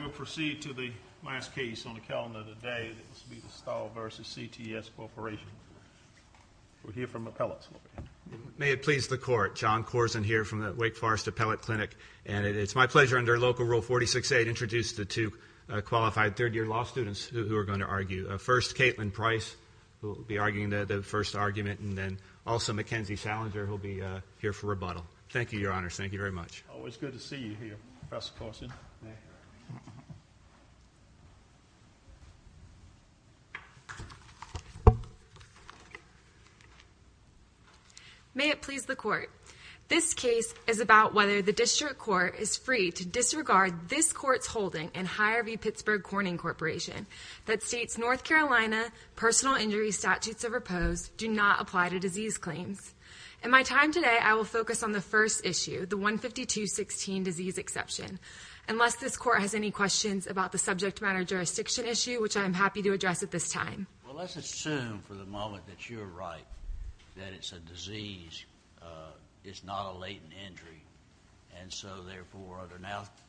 We'll proceed to the last case on the calendar today, Stahle v. CTS Corporation. We'll hear from appellates. May it please the Court, John Corzine here from the Wake Forest Appellate Clinic, and it's my pleasure under Local Rule 46A to introduce the two qualified third-year law students who are going to argue. First, Caitlin Price, who will be arguing the first argument, and then also Mackenzie Schallinger, who will be here for rebuttal. Thank you, Your Honor. Thank you very much. Always good to see you here, Professor Corzine. May it please the Court. This case is about whether the District Court is free to disregard this Court's holding in Higher v. Pittsburgh Corning Corporation that states North Carolina personal injury statutes of repose do not apply to disease claims. In my time today, I will focus on the first issue, the 152.16 disease exception. Unless this Court has any questions about the subject matter jurisdiction issue, which I am happy to address at this time. Well, let's assume for the moment that you're right, that it's a disease, it's not a latent injury, and so therefore under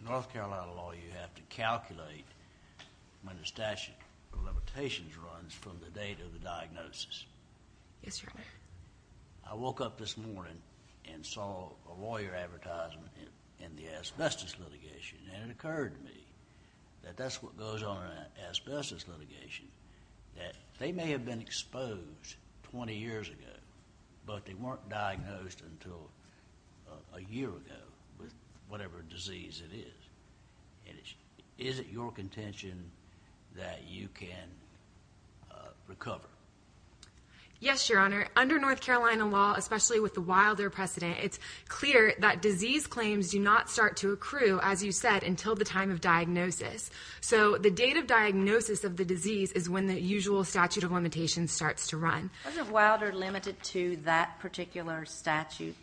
North Carolina law you have to calculate when a statute of limitations runs from the date of the diagnosis. Yes, Your Honor. I woke up this morning and saw a lawyer advertisement in the asbestos litigation, and it occurred to me that that's what goes on in an asbestos litigation, that they may have been exposed 20 years ago, but they weren't diagnosed until a year ago with whatever disease it is. Is it your contention that you can recover? Yes, Your Honor. Under North Carolina law, especially with the Wilder precedent, it's clear that disease claims do not start to accrue, as you said, until the time of diagnosis. So the date of diagnosis of the disease is when the usual statute of limitations starts to run. Wasn't Wilder limited to that particular statute,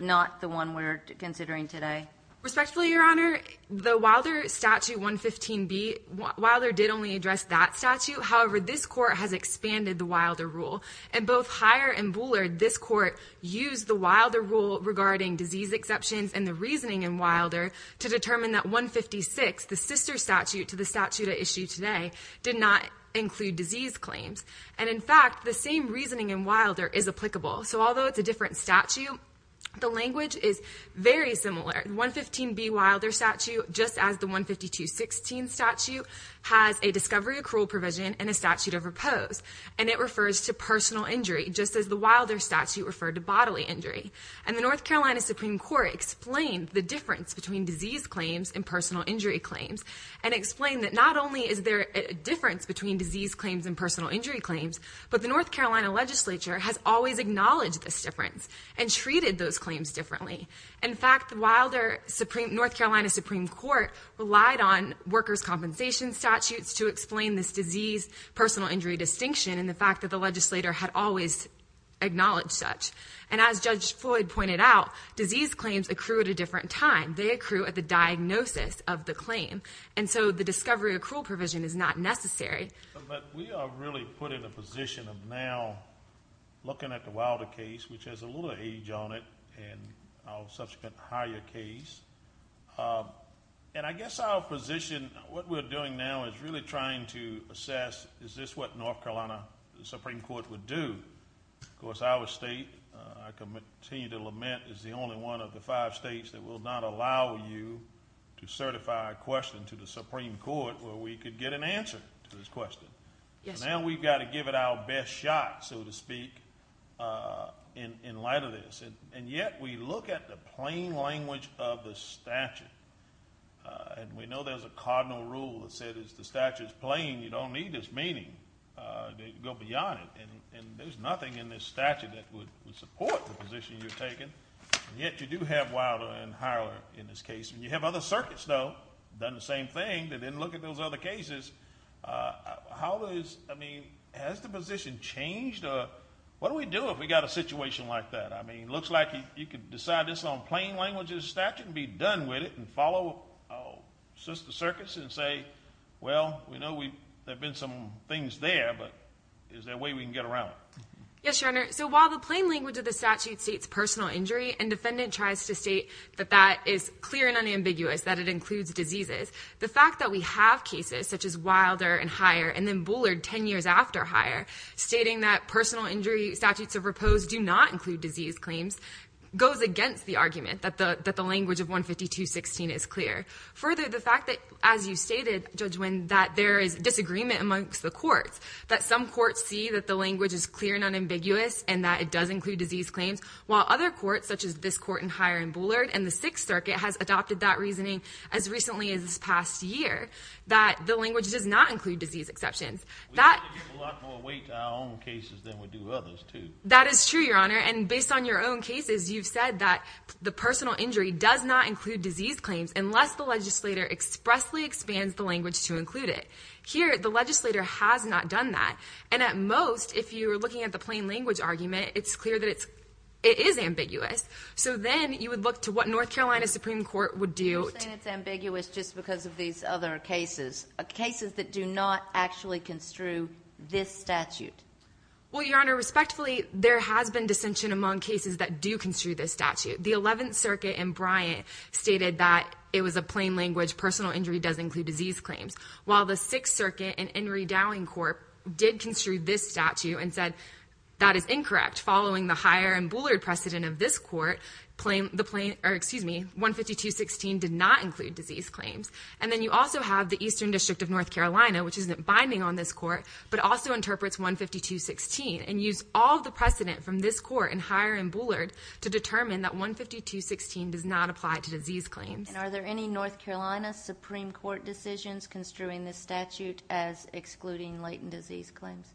not the one we're considering today? Respectfully, Your Honor, the Wilder Statute 115B, Wilder did only address that statute. However, this court has expanded the Wilder rule, and both Hyer and Bullard, this court used the Wilder rule regarding disease exceptions and the reasoning in Wilder to determine that 156, the sister statute to the statute at issue today, did not include disease claims. And in fact, the same reasoning in Wilder is applicable. So although it's a different statute, the language is very similar. The 115B Wilder statute, just as the 152.16 statute, has a discovery accrual provision and a statute of repose. And it refers to personal injury, just as the Wilder statute referred to bodily injury. And the North Carolina Supreme Court explained the difference between disease claims and personal injury claims, and explained that not only is there a difference between disease claims and personal injury claims, but the North Carolina legislature has always acknowledged this difference and treated those claims differently. In fact, the North Carolina Supreme Court relied on workers' compensation statutes to explain this disease-personal injury distinction and the fact that the legislator had always acknowledged such. And as Judge Floyd pointed out, disease claims accrue at a different time. They accrue at the diagnosis of the claim, and so the discovery accrual provision is not necessary. But we are really put in a position of now looking at the Wilder case, which has a little age on it, and our subsequent higher case. And I guess our position, what we're doing now is really trying to assess, is this what North Carolina Supreme Court would do? Of course, our state, I continue to lament, is the only one of the five states that will not allow you to certify a question to the Supreme Court where we could get an answer to this question. Now we've got to give it our best shot, so to speak, in light of this. And yet we look at the plain language of the statute, and we know there's a cardinal rule that says the statute's plain. You don't need this meaning to go beyond it, and there's nothing in this statute that would support the position you're taking. Yet you do have Wilder and Hyler in this case. You have other circuits, though, done the same thing, but didn't look at those other cases. How is, I mean, has the position changed? What do we do if we've got a situation like that? I mean, it looks like you could decide this on plain language of the statute and be done with it and follow the circuits and say, well, we know there have been some things there, but is there a way we can get around it? Yes, Your Honor. So while the plain language of the statute states personal injury and defendant tries to state that that is clear and unambiguous, that it includes diseases, the fact that we have cases such as Wilder and Hyer and then Bullard 10 years after Hyer stating that personal injury statutes of repose do not include disease claims goes against the argument that the language of 152.16 is clear. Further, the fact that, as you stated, Judge Winn, that there is disagreement amongst the courts, that some courts see that the language is clear and unambiguous and that it does include disease claims, while other courts, such as this court in Hyer and Bullard and the Sixth Circuit, has adopted that reasoning as recently as this past year, that the language does not include disease exceptions. We have to give a lot more weight to our own cases than we do others, too. That is true, Your Honor, and based on your own cases, you've said that the personal injury does not include disease claims unless the legislator expressly expands the language to include it. Here, the legislator has not done that, and at most, if you were looking at the plain language argument, it's clear that it is ambiguous. So then you would look to what North Carolina Supreme Court would do. You're saying it's ambiguous just because of these other cases, cases that do not actually construe this statute. Well, Your Honor, respectfully, there has been dissension among cases that do construe this statute. The Eleventh Circuit in Bryant stated that it was a plain language, personal injury does include disease claims, while the Sixth Circuit in Henry Dowing Court did construe this statute and said that is incorrect following the Hyer and Boulard precedent of this court, 152.16 did not include disease claims. And then you also have the Eastern District of North Carolina, which isn't binding on this court, but also interprets 152.16 and used all the precedent from this court in Hyer and Boulard to determine that 152.16 does not apply to disease claims. And are there any North Carolina Supreme Court decisions construing this statute as excluding latent disease claims?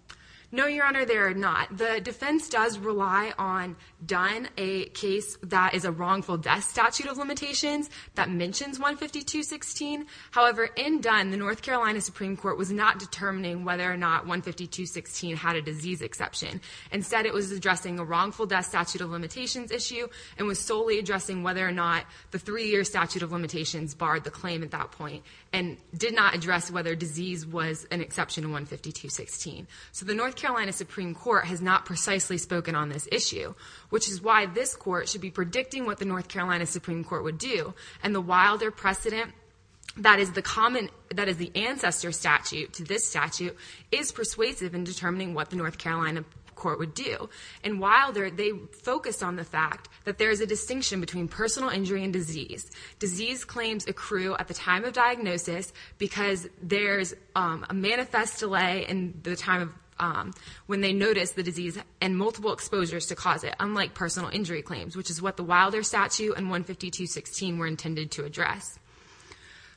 No, Your Honor, there are not. The defense does rely on Dunn, a case that is a wrongful death statute of limitations, that mentions 152.16. However, in Dunn, the North Carolina Supreme Court was not determining whether or not 152.16 had a disease exception. Instead, it was addressing a wrongful death statute of limitations issue and was solely addressing whether or not the three-year statute of limitations barred the claim at that point and did not address whether disease was an exception to 152.16. So the North Carolina Supreme Court has not precisely spoken on this issue, which is why this court should be predicting what the North Carolina Supreme Court would do, and the Wilder precedent that is the ancestor statute to this statute is persuasive in determining what the North Carolina Court would do. In Wilder, they focus on the fact that there is a distinction between personal injury and disease. Disease claims accrue at the time of diagnosis because there is a manifest delay in the time when they notice the disease and multiple exposures to cause it, unlike personal injury claims, which is what the Wilder statute and 152.16 were intended to address.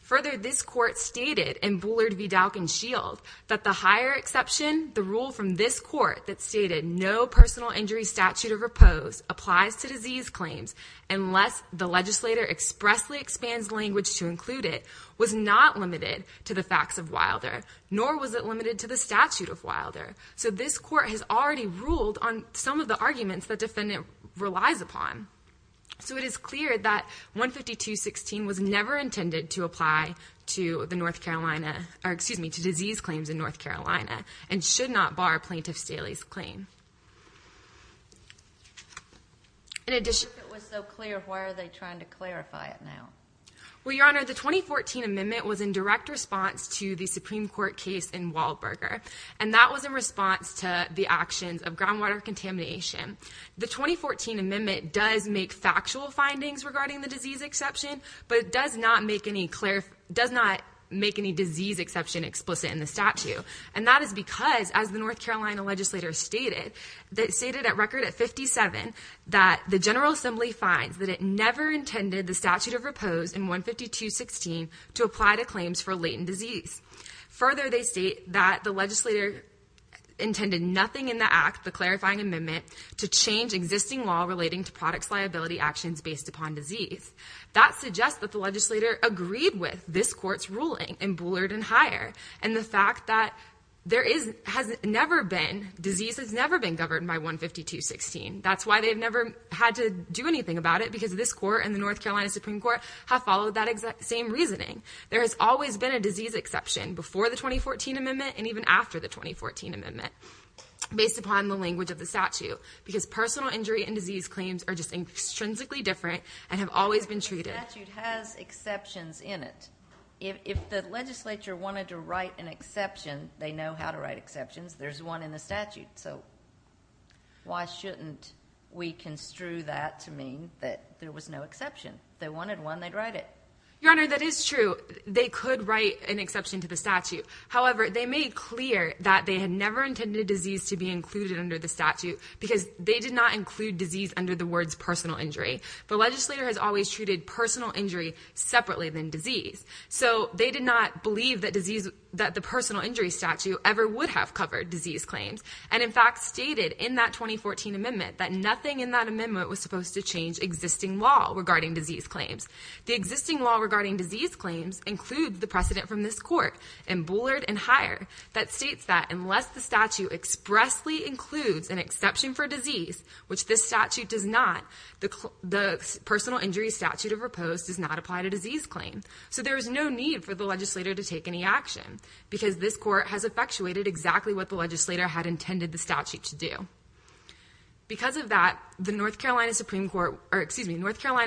Further, this court stated in Bullard v. Dalkin-Shield that the higher exception, the rule from this court that stated no personal injury statute of repose applies to disease claims unless the legislator expressly expands language to include it, was not limited to the facts of Wilder, nor was it limited to the statute of Wilder. So this court has already ruled on some of the arguments the defendant relies upon. So it is clear that 152.16 was never intended to apply to the North Carolina, or excuse me, to disease claims in North Carolina, and should not bar Plaintiff Staley's claim. If it was so clear, why are they trying to clarify it now? Well, Your Honor, the 2014 amendment was in direct response to the Supreme Court case in Waldberger, and that was in response to the actions of groundwater contamination. The 2014 amendment does make factual findings regarding the disease exception, but it does not make any disease exception explicit in the statute. And that is because, as the North Carolina legislator stated, they stated at record at 57 that the General Assembly finds that it never intended the statute of repose in 152.16 to apply to claims for latent disease. Further, they state that the legislator intended nothing in the act, the clarifying amendment, to change existing law relating to products liability actions based upon disease. That suggests that the legislator agreed with this court's ruling in Bullard and Higher, and the fact that disease has never been governed by 152.16. That's why they've never had to do anything about it, because this court and the North Carolina Supreme Court have followed that same reasoning. There has always been a disease exception before the 2014 amendment and even after the 2014 amendment, based upon the language of the statute, because personal injury and disease claims are just intrinsically different and have always been treated. The statute has exceptions in it. If the legislature wanted to write an exception, they know how to write exceptions. There's one in the statute. So why shouldn't we construe that to mean that there was no exception? If they wanted one, they'd write it. Your Honor, that is true. They could write an exception to the statute. However, they made clear that they had never intended disease to be included under the statute because they did not include disease under the words personal injury. The legislator has always treated personal injury separately than disease. So they did not believe that the personal injury statute ever would have covered disease claims and, in fact, stated in that 2014 amendment that nothing in that amendment was supposed to change existing law regarding disease claims. The existing law regarding disease claims includes the precedent from this court in Bullard and Higher that states that unless the statute expressly includes an exception for disease, which this statute does not, the personal injury statute of repose does not apply to disease claims. So there is no need for the legislator to take any action because this court has effectuated exactly what the legislator had intended the statute to do. Because of that, the North Carolina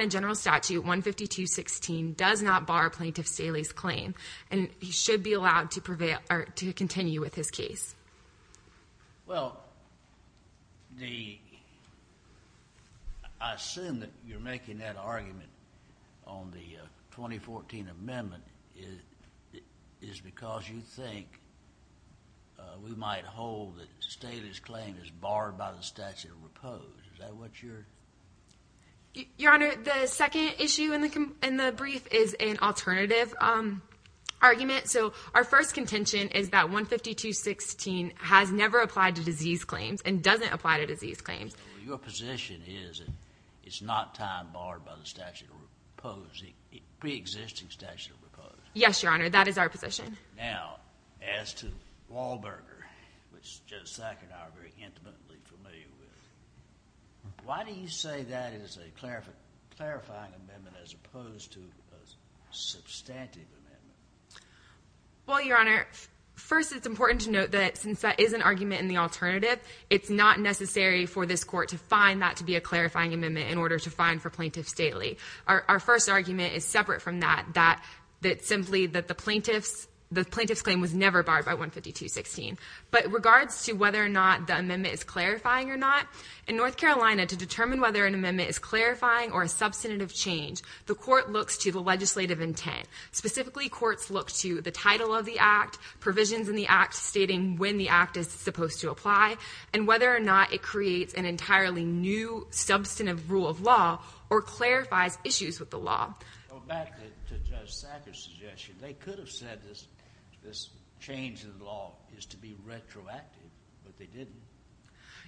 General Statute 15216 does not bar Plaintiff Staley's claim and he should be allowed to continue with his case. Well, I assume that you're making that argument on the 2014 amendment is because you think we might hold that Staley's claim is barred by the statute of repose. Is that what you're...? Your Honor, the second issue in the brief is an alternative argument. So our first contention is that 15216 has never applied to disease claims and doesn't apply to disease claims. Your position is that it's not time barred by the statute of repose, the preexisting statute of repose. Yes, Your Honor, that is our position. Now, as to Wahlberger, which Judge Sackett and I are very intimately familiar with, why do you say that is a clarifying amendment as opposed to a substantive amendment? Well, Your Honor, first it's important to note that since that is an argument in the alternative, it's not necessary for this court to find that to be a clarifying amendment in order to fine for Plaintiff Staley. Our first argument is separate from that, that simply the plaintiff's claim was never barred by 15216. But in regards to whether or not the amendment is clarifying or not, in North Carolina to determine whether an amendment is clarifying or a substantive change, the court looks to the legislative intent. Specifically, courts look to the title of the act, provisions in the act stating when the act is supposed to apply, and whether or not it creates an entirely new substantive rule of law or clarifies issues with the law. Going back to Judge Sackett's suggestion, they could have said this change in the law is to be retroactive, but they didn't.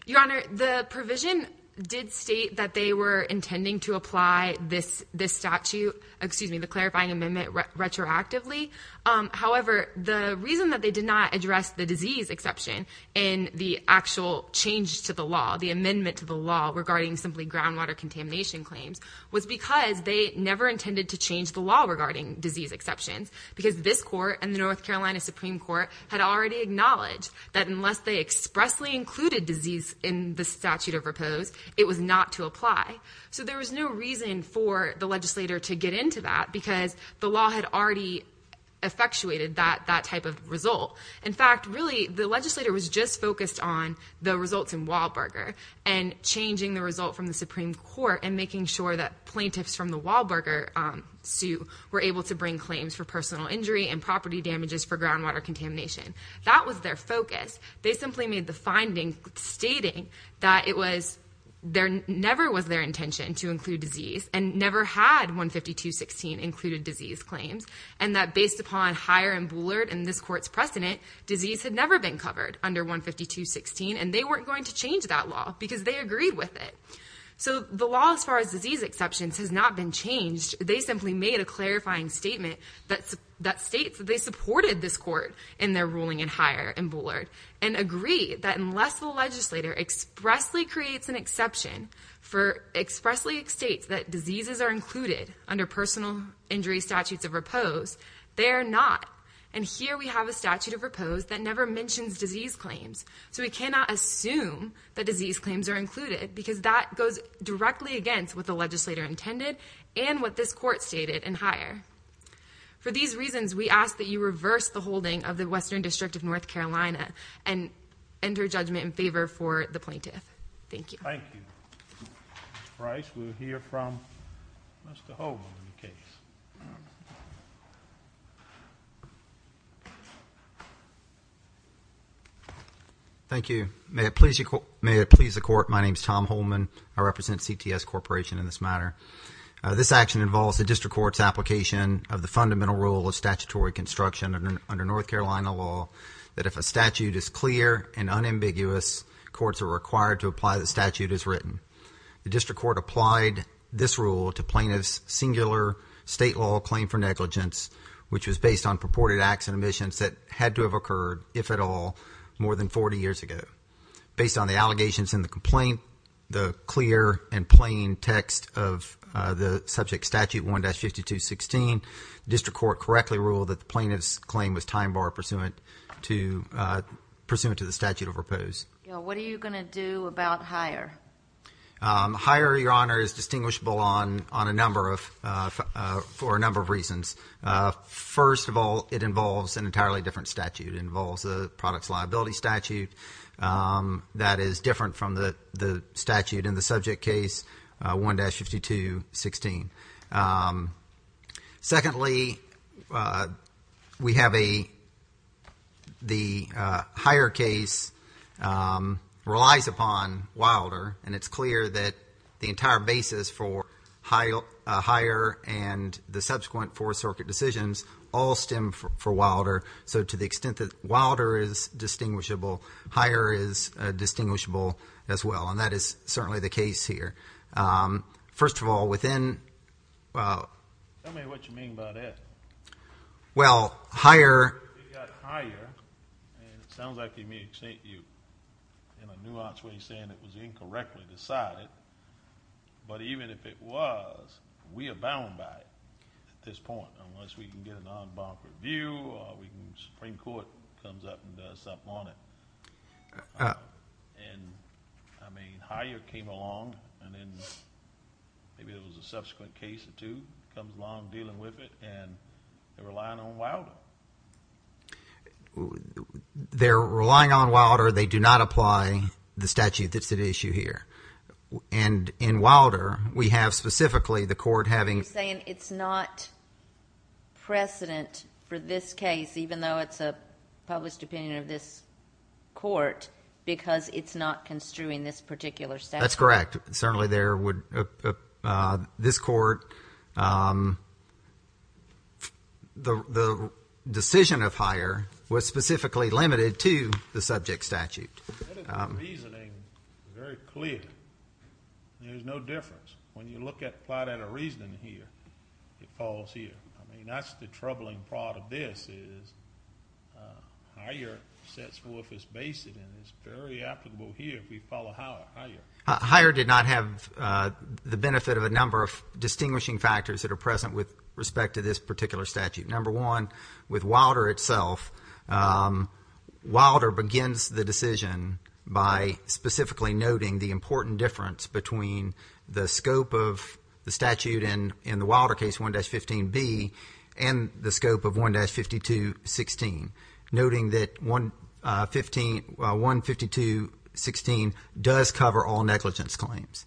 Your Honor, the provision did state that they were intending to apply this statute, excuse me, the clarifying amendment retroactively. However, the reason that they did not address the disease exception in the actual change to the law, the amendment to the law regarding simply groundwater contamination claims, was because they never intended to change the law regarding disease exceptions, because this court and the North Carolina Supreme Court had already acknowledged that unless they expressly included disease in the statute of repose, it was not to apply. So there was no reason for the legislator to get into that because the law had already effectuated that type of result. In fact, really, the legislator was just focused on the results in Wallberger and changing the result from the Supreme Court and making sure that plaintiffs from the Wallberger suit were able to bring claims for personal injury and property damages for groundwater contamination. That was their focus. They simply made the finding stating that it was their never was their intention to include disease and never had 152.16 included disease claims, and that based upon Heyer and Boulard and this court's precedent, disease had never been covered under 152.16, and they weren't going to change that law because they agreed with it. So the law as far as disease exceptions has not been changed. They simply made a clarifying statement that states that they supported this court in their ruling in Heyer and Boulard and agreed that unless the legislator expressly creates an exception for expressly states that diseases are included under personal injury statutes of repose, they are not. And here we have a statute of repose that never mentions disease claims. So we cannot assume that disease claims are included because that goes directly against what the legislator intended and what this court stated in Heyer. For these reasons, we ask that you reverse the holding of the Western District of North Carolina and enter judgment in favor for the plaintiff. Thank you. Thank you. Mr. Price, we'll hear from Mr. Holman on the case. Thank you. May it please the court, my name is Tom Holman. I represent CTS Corporation in this matter. This action involves the district court's application of the fundamental rule of statutory construction under North Carolina law that if a statute is clear and unambiguous, courts are required to apply the statute as written. The district court applied this rule to plaintiff's singular state law claim for negligence, which was based on purported acts and omissions that had to have occurred, if at all, more than 40 years ago. Based on the allegations in the complaint, the clear and plain text of the subject statute 1-52-16, the district court correctly ruled that the plaintiff's claim was time bar pursuant to the statute of repose. What are you going to do about Heyer? Heyer, Your Honor, is distinguishable for a number of reasons. First of all, it involves an entirely different statute. It involves a products liability statute that is different from the statute in the subject case 1-52-16. Secondly, we have a the Heyer case relies upon Wilder, and it's clear that the entire basis for Heyer and the subsequent Fourth Circuit decisions all stem from Wilder. So to the extent that Wilder is distinguishable, Heyer is distinguishable as well, and that is certainly the case here. First of all, within— Tell me what you mean by that. Well, Heyer— But even if it was, we abound by it at this point, unless we can get a non-bonk review or the Supreme Court comes up and does something on it. And, I mean, Heyer came along, and then maybe it was a subsequent case or two, comes along, dealing with it, and they're relying on Wilder. They're relying on Wilder. They do not apply the statute that's at issue here. And in Wilder, we have specifically the court having— You're saying it's not precedent for this case, even though it's a published opinion of this court, because it's not construing this particular statute. That's correct. Certainly, there would—this court, the decision of Heyer was specifically limited to the subject statute. The reasoning is very clear. There's no difference. When you look at—apply that reasoning here, it falls here. I mean, that's the troubling part of this is Heyer sets forth his basis, and it's very applicable here if we follow Heyer. Heyer did not have the benefit of a number of distinguishing factors that are present with respect to this particular statute. Number one, with Wilder itself, Wilder begins the decision by specifically noting the important difference between the scope of the statute in the Wilder case, 1-15B, and the scope of 1-52-16, noting that 1-52-16 does cover all negligence claims.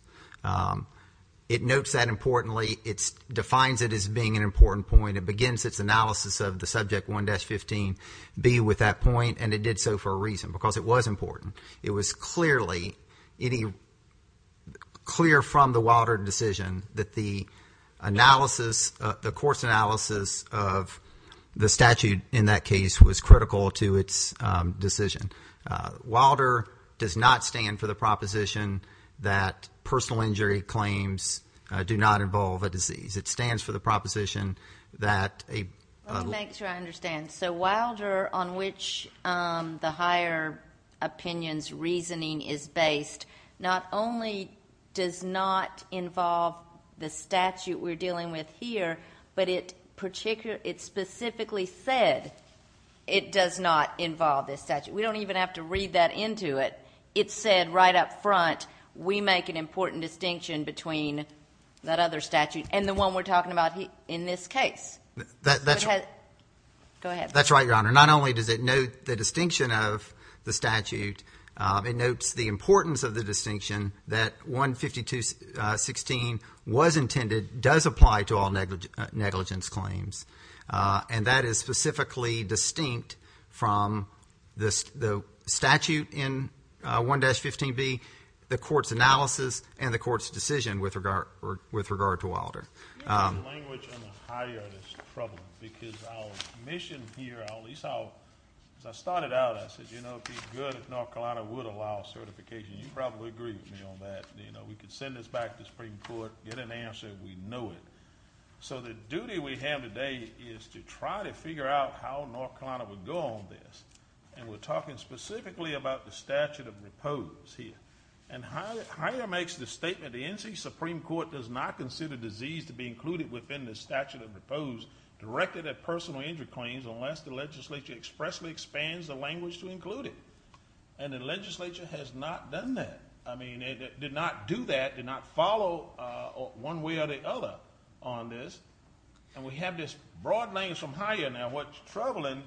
It notes that importantly. It defines it as being an important point. It begins its analysis of the subject 1-15B with that point, and it did so for a reason, because it was important. It was clearly any—clear from the Wilder decision that the analysis, the court's analysis of the statute in that case was critical to its decision. Wilder does not stand for the proposition that personal injury claims do not involve a disease. It stands for the proposition that a— Let me make sure I understand. So Wilder, on which the Heyer opinion's reasoning is based, not only does not involve the statute we're dealing with here, but it specifically said it does not involve this statute. We don't even have to read that into it. It said right up front we make an important distinction between that other statute and the one we're talking about in this case. Go ahead. That's right, Your Honor. Not only does it note the distinction of the statute, it notes the importance of the distinction that 1-52-16 was intended, does apply to all negligence claims, and that is specifically distinct from the statute in 1-15B, the court's analysis, and the court's decision with regard to Wilder. The language on the Heyer is troubling because our mission here, at least our— As I started out, I said, you know, it would be good if North Carolina would allow certification. You probably agree with me on that. We could send this back to the Supreme Court, get an answer. We know it. So the duty we have today is to try to figure out how North Carolina would go on this, and we're talking specifically about the statute of repose here. And Heyer makes the statement, the NC Supreme Court does not consider disease to be included within the statute of repose directed at personal injury claims unless the legislature expressly expands the language to include it, and the legislature has not done that. I mean, it did not do that, did not follow one way or the other on this, and we have this broad language from Heyer. Now, what's troubling,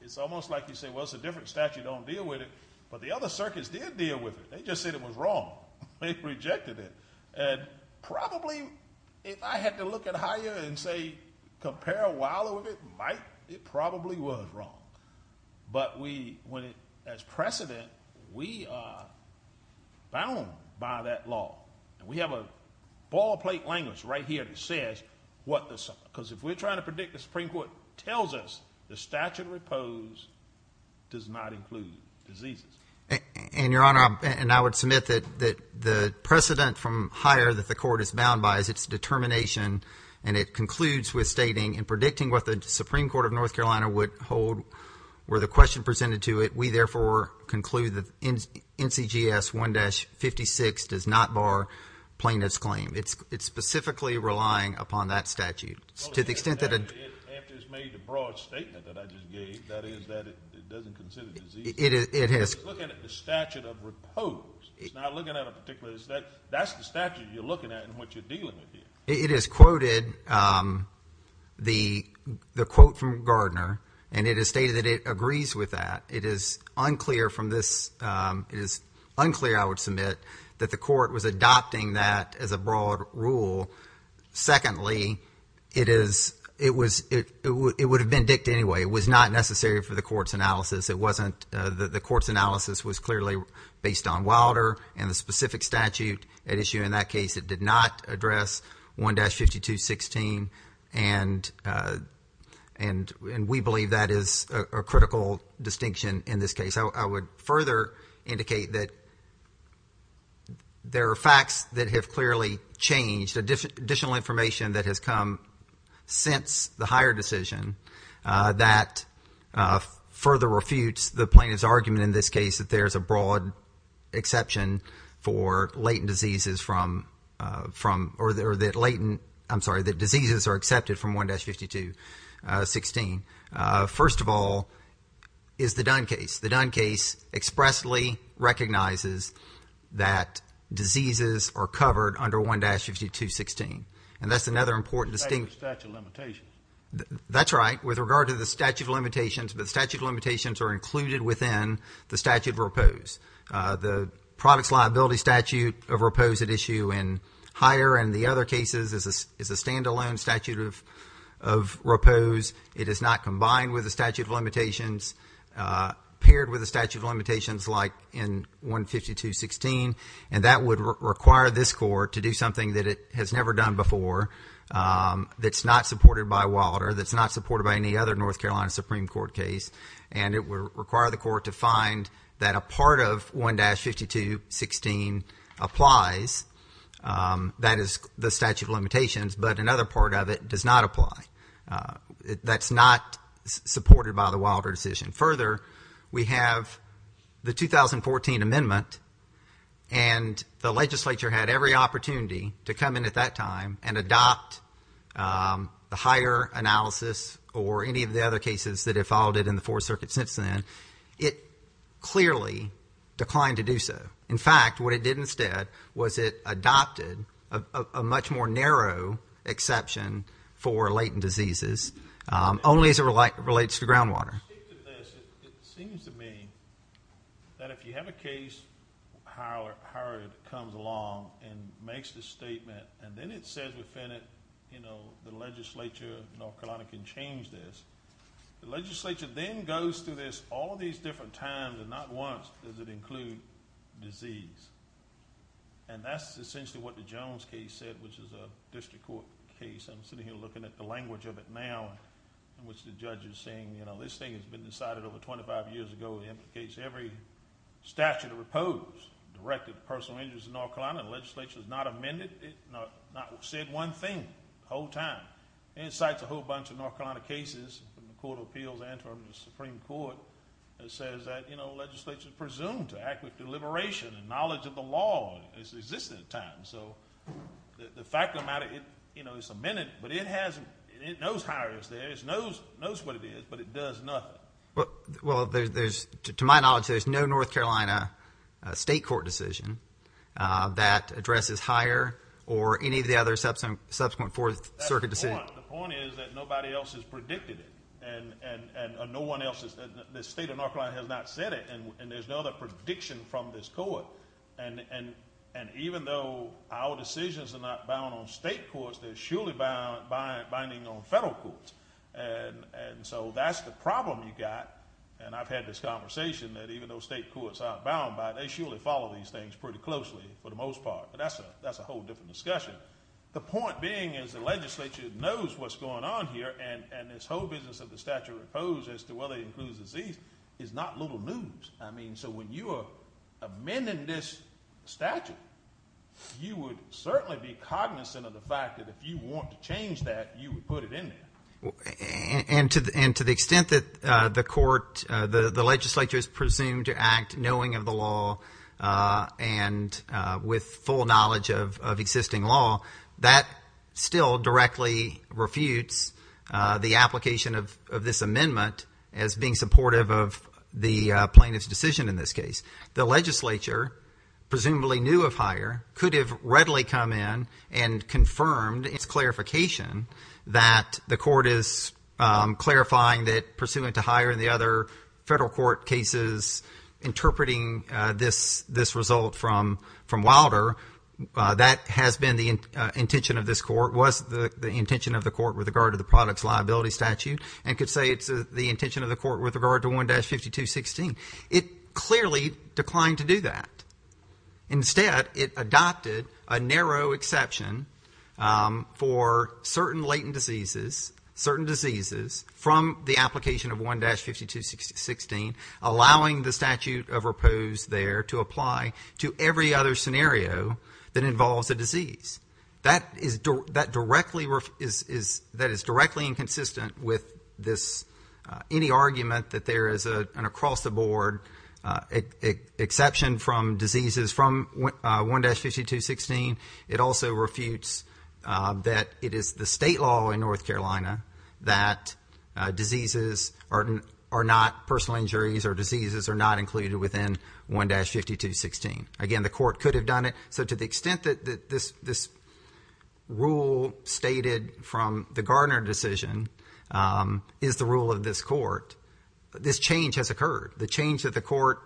it's almost like you say, well, it's a different statute, don't deal with it, but the other circuits did deal with it. They just said it was wrong. They rejected it. And probably, if I had to look at Heyer and say, compare Wilder with it, Mike, it probably was wrong. But we, as precedent, we are bound by that law, and we have a ball-plate language right here that says what the— And, Your Honor, and I would submit that the precedent from Heyer that the court is bound by is its determination, and it concludes with stating, in predicting what the Supreme Court of North Carolina would hold were the question presented to it, we therefore conclude that NCGS 1-56 does not bar plaintiff's claim. It's specifically relying upon that statute. To the extent that it— After it's made the broad statement that I just gave, that is, that it doesn't consider disease. It has— It's looking at the statute of repose. It's not looking at a particular—that's the statute you're looking at and what you're dealing with here. It has quoted the quote from Gardner, and it has stated that it agrees with that. It is unclear from this—it is unclear, I would submit, that the court was adopting that as a broad rule. Secondly, it is—it was—it would have been dicked anyway. It was not necessary for the court's analysis. It wasn't—the court's analysis was clearly based on Wilder and the specific statute at issue in that case. It did not address 1-52-16, and we believe that is a critical distinction in this case. I would further indicate that there are facts that have clearly changed, additional information that has come since the higher decision that further refutes the plaintiff's argument in this case, that there is a broad exception for latent diseases from—or that latent—I'm sorry, that diseases are accepted from 1-52-16. First of all is the Dunn case. The Dunn case expressly recognizes that diseases are covered under 1-52-16, and that's another important distinction. The statute of limitations. That's right. With regard to the statute of limitations, the statute of limitations are included within the statute of repose. The product's liability statute of repose at issue in higher and the other cases is a standalone statute of repose. It is not combined with the statute of limitations, paired with the statute of limitations like in 1-52-16, and that would require this court to do something that it has never done before that's not supported by Wilder, that's not supported by any other North Carolina Supreme Court case, and it would require the court to find that a part of 1-52-16 applies, that is the statute of limitations, but another part of it does not apply. That's not supported by the Wilder decision. Further, we have the 2014 amendment, and the legislature had every opportunity to come in at that time and adopt the higher analysis or any of the other cases that have followed it in the Fourth Circuit since then. It clearly declined to do so. In fact, what it did instead was it adopted a much more narrow exception for latent diseases, only as it relates to groundwater. It seems to me that if you have a case, Howard comes along and makes the statement, and then it says within it, you know, the legislature of North Carolina can change this, the legislature then goes through this all these different times, and not once does it include disease, and that's essentially what the Jones case said, which is a district court case. I'm sitting here looking at the language of it now in which the judge is saying, you know, this thing has been decided over 25 years ago. It implicates every statute of repose directed to personal injuries in North Carolina. The legislature has not amended it, not said one thing the whole time. And it cites a whole bunch of North Carolina cases from the Court of Appeals and from the Supreme Court that says that, you know, legislature is presumed to act with deliberation and knowledge of the law as it exists at the time. So the fact of the matter, you know, it's amended, but it knows how it is there. It knows what it is, but it does nothing. Well, to my knowledge, there's no North Carolina state court decision that addresses higher or any of the other subsequent Fourth Circuit decisions. The point is that nobody else has predicted it, and no one else, the state of North Carolina has not said it, and there's no other prediction from this court. And even though our decisions are not bound on state courts, they're surely binding on federal courts. And so that's the problem you've got, and I've had this conversation that even though state courts aren't bound by it, they surely follow these things pretty closely for the most part, but that's a whole different discussion. The point being is the legislature knows what's going on here, and this whole business of the statute of repose as to whether it includes disease is not little news. I mean, so when you are amending this statute, you would certainly be cognizant of the fact that if you want to change that, you would put it in there. And to the extent that the court, the legislature is presumed to act knowing of the law and with full knowledge of existing law, that still directly refutes the application of this amendment as being supportive of the plaintiff's decision in this case. The legislature presumably knew of hire, could have readily come in and confirmed its clarification that the court is clarifying that, and the other federal court cases interpreting this result from Wilder, that has been the intention of this court, was the intention of the court with regard to the products liability statute, and could say it's the intention of the court with regard to 1-52-16. It clearly declined to do that. Instead, it adopted a narrow exception for certain latent diseases, certain diseases from the application of 1-52-16, allowing the statute of repose there to apply to every other scenario that involves a disease. That is directly inconsistent with any argument that there is an across-the-board exception from diseases from 1-52-16. It also refutes that it is the state law in North Carolina that diseases are not personal injuries or diseases are not included within 1-52-16. Again, the court could have done it. So to the extent that this rule stated from the Gardner decision is the rule of this court, this change has occurred. The change that the court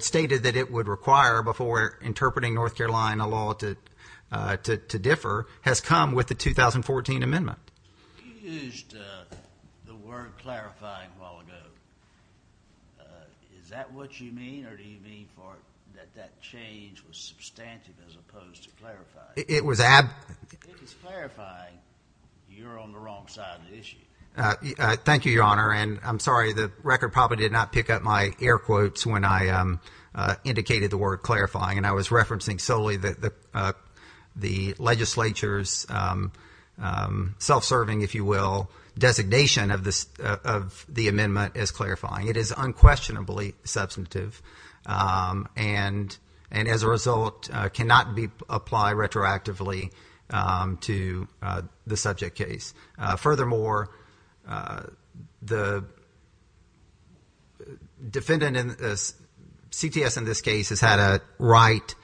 stated that it would require before interpreting North Carolina law to differ has come with the 2014 amendment. You used the word clarifying a while ago. Is that what you mean, or do you mean that that change was substantive as opposed to clarifying? It is clarifying that you're on the wrong side of the issue. Thank you, Your Honor, and I'm sorry. The record probably did not pick up my air quotes when I indicated the word clarifying, and I was referencing solely the legislature's self-serving, if you will, designation of the amendment as clarifying. It is unquestionably substantive and, as a result, cannot apply retroactively to the subject case. Furthermore, the defendant, CTS in this case, has had a right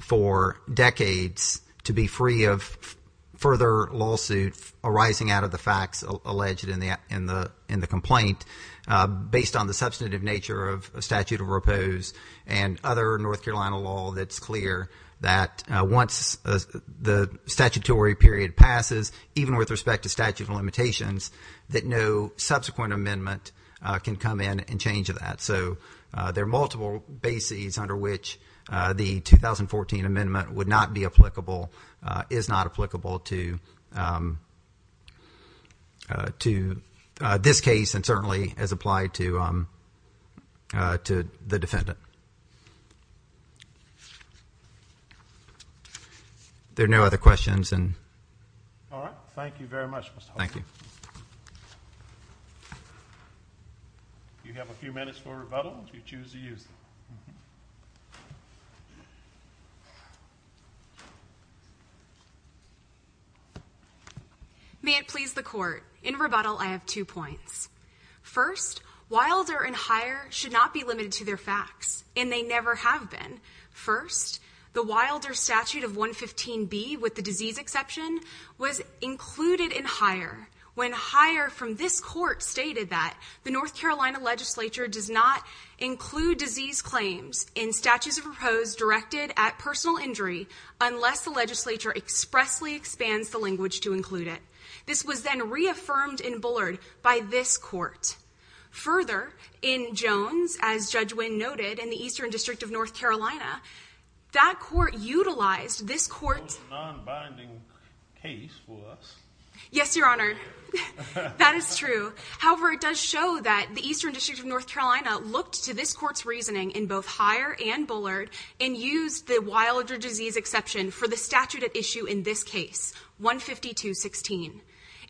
for decades to be free of further lawsuit arising out of the facts alleged in the complaint. Based on the substantive nature of statute of repose and other North Carolina law, it's clear that once the statutory period passes, even with respect to statute of limitations, that no subsequent amendment can come in and change that. So there are multiple bases under which the 2014 amendment would not be applicable, is not applicable to this case, and certainly has applied to the defendant. Are there no other questions? All right. Thank you very much, Mr. Hoffman. Thank you. You have a few minutes for rebuttal if you choose to use them. May it please the court. In rebuttal, I have two points. First, Wilder and Hire should not be limited to their facts, and they never have been. First, the Wilder statute of 115B, with the disease exception, was included in Hire, when Hire from this court stated that the North Carolina legislature does not include disease claims in statutes of repose directed at personal injury unless the legislature expressly expands the language to include it. This was then reaffirmed in Bullard by this court. Further, in Jones, as Judge Wynn noted, in the Eastern District of North Carolina, that court utilized this court's… It's a non-binding case for us. Yes, Your Honor. That is true. However, it does show that the Eastern District of North Carolina looked to this court's reasoning in both Hire and Bullard and used the Wilder disease exception for the statute at issue in this case, 152-16.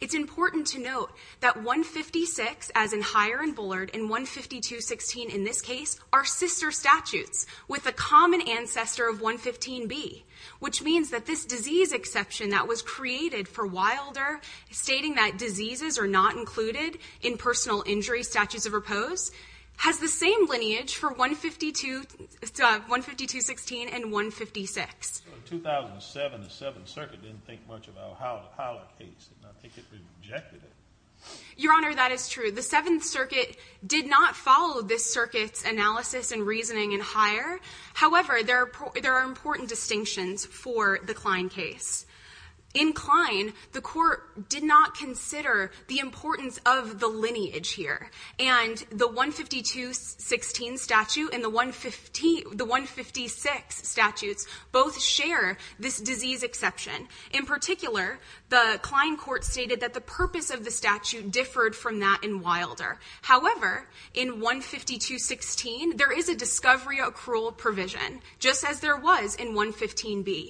It's important to note that 156, as in Hire and Bullard, and 152-16 in this case are sister statutes with a common ancestor of 115B, which means that this disease exception that was created for Wilder, stating that diseases are not included in personal injury statutes of repose, has the same lineage for 152-16 and 156. So in 2007, the Seventh Circuit didn't think much about the Hiler case, and I think it rejected it. Your Honor, that is true. The Seventh Circuit did not follow this circuit's analysis and reasoning in Hire. However, there are important distinctions for the Kline case. In Kline, the court did not consider the importance of the lineage here, and the 152-16 statute and the 156 statutes both share this disease exception. In particular, the Kline court stated that the purpose of the statute differed from that in Wilder. However, in 152-16, there is a discovery accrual provision, just as there was in 115B.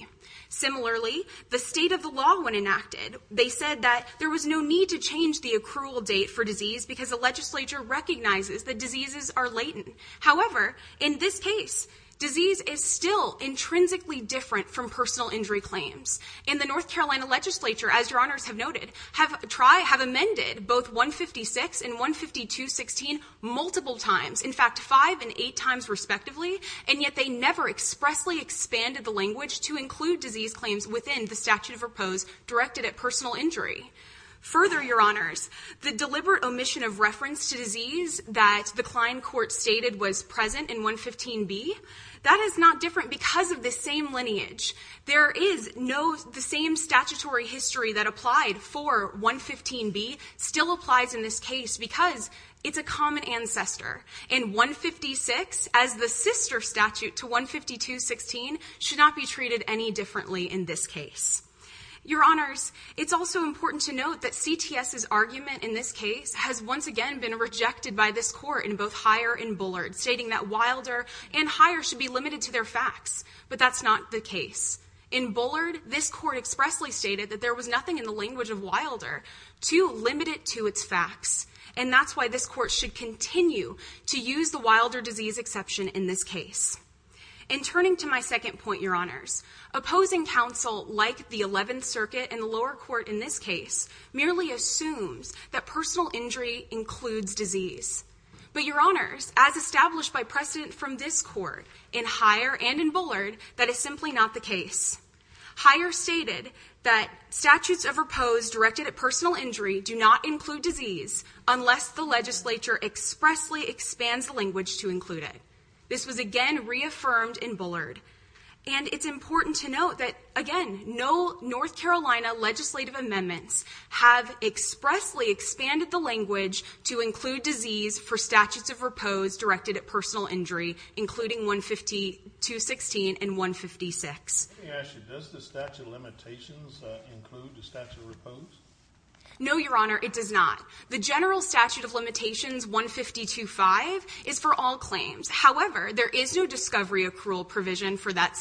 Similarly, the state of the law, when enacted, they said that there was no need to change the accrual date for disease because the legislature recognizes that diseases are latent. However, in this case, disease is still intrinsically different from personal injury claims. In the North Carolina legislature, as Your Honors have noted, have amended both 156 and 152-16 multiple times, in fact, five and eight times respectively, and yet they never expressly expanded the language to include disease claims within the statute of repose directed at personal injury. Further, Your Honors, the deliberate omission of reference to disease that the Kline court stated was present in 115B, that is not different because of the same lineage. There is no—the same statutory history that applied for 115B still applies in this case because it's a common ancestor. And 156, as the sister statute to 152-16, should not be treated any differently in this case. Your Honors, it's also important to note that CTS's argument in this case has once again been rejected by this court in both Heyer and Bullard, stating that Wilder and Heyer should be limited to their facts, but that's not the case. In Bullard, this court expressly stated that there was nothing in the language of Wilder to limit it to its facts, and that's why this court should continue to use the Wilder disease exception in this case. And turning to my second point, Your Honors, opposing counsel like the Eleventh Circuit and the lower court in this case merely assumes that personal injury includes disease. But Your Honors, as established by precedent from this court in Heyer and in Bullard, that is simply not the case. Heyer stated that statutes of repose directed at personal injury do not include disease unless the legislature expressly expands the language to include it. This was again reaffirmed in Bullard. And it's important to note that, again, no North Carolina legislative amendments have expressly expanded the language to include disease for statutes of repose directed at personal injury, including 152-16 and 156. Let me ask you, does the statute of limitations include the statute of repose? No, Your Honor, it does not. The general statute of limitations, 152-5, is for all claims. However, there is no discovery accrual provision for that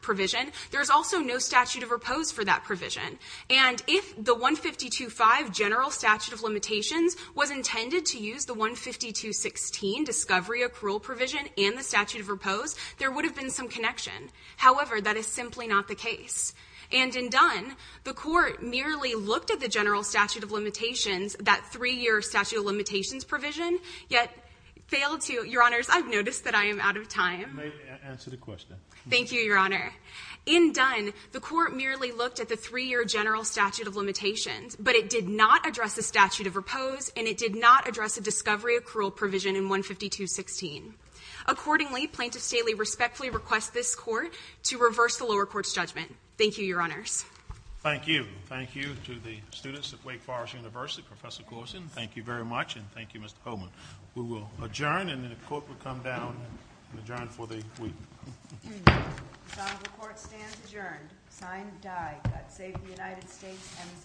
provision. There is also no statute of repose for that provision. And if the 152-5 general statute of limitations was intended to use the 152-16 discovery accrual provision and the statute of repose, there would have been some connection. However, that is simply not the case. And in Dunn, the Court merely looked at the general statute of limitations, that three-year statute of limitations provision, yet failed to – Your Honors, I've noticed that I am out of time. You may answer the question. Thank you, Your Honor. In Dunn, the Court merely looked at the three-year general statute of limitations, but it did not address the statute of repose and it did not address the discovery accrual provision in 152-16. Accordingly, Plaintiff Staley respectfully requests this Court to reverse the lower court's judgment. Thank you, Your Honors. Thank you. Thank you to the students at Wake Forest University, Professor Coulson. Thank you very much and thank you, Mr. Coleman. We will adjourn and then the Court will come down and adjourn for the week. The Honorable Court stands adjourned. Signed, Dye. God save the United States and His Honorable Court.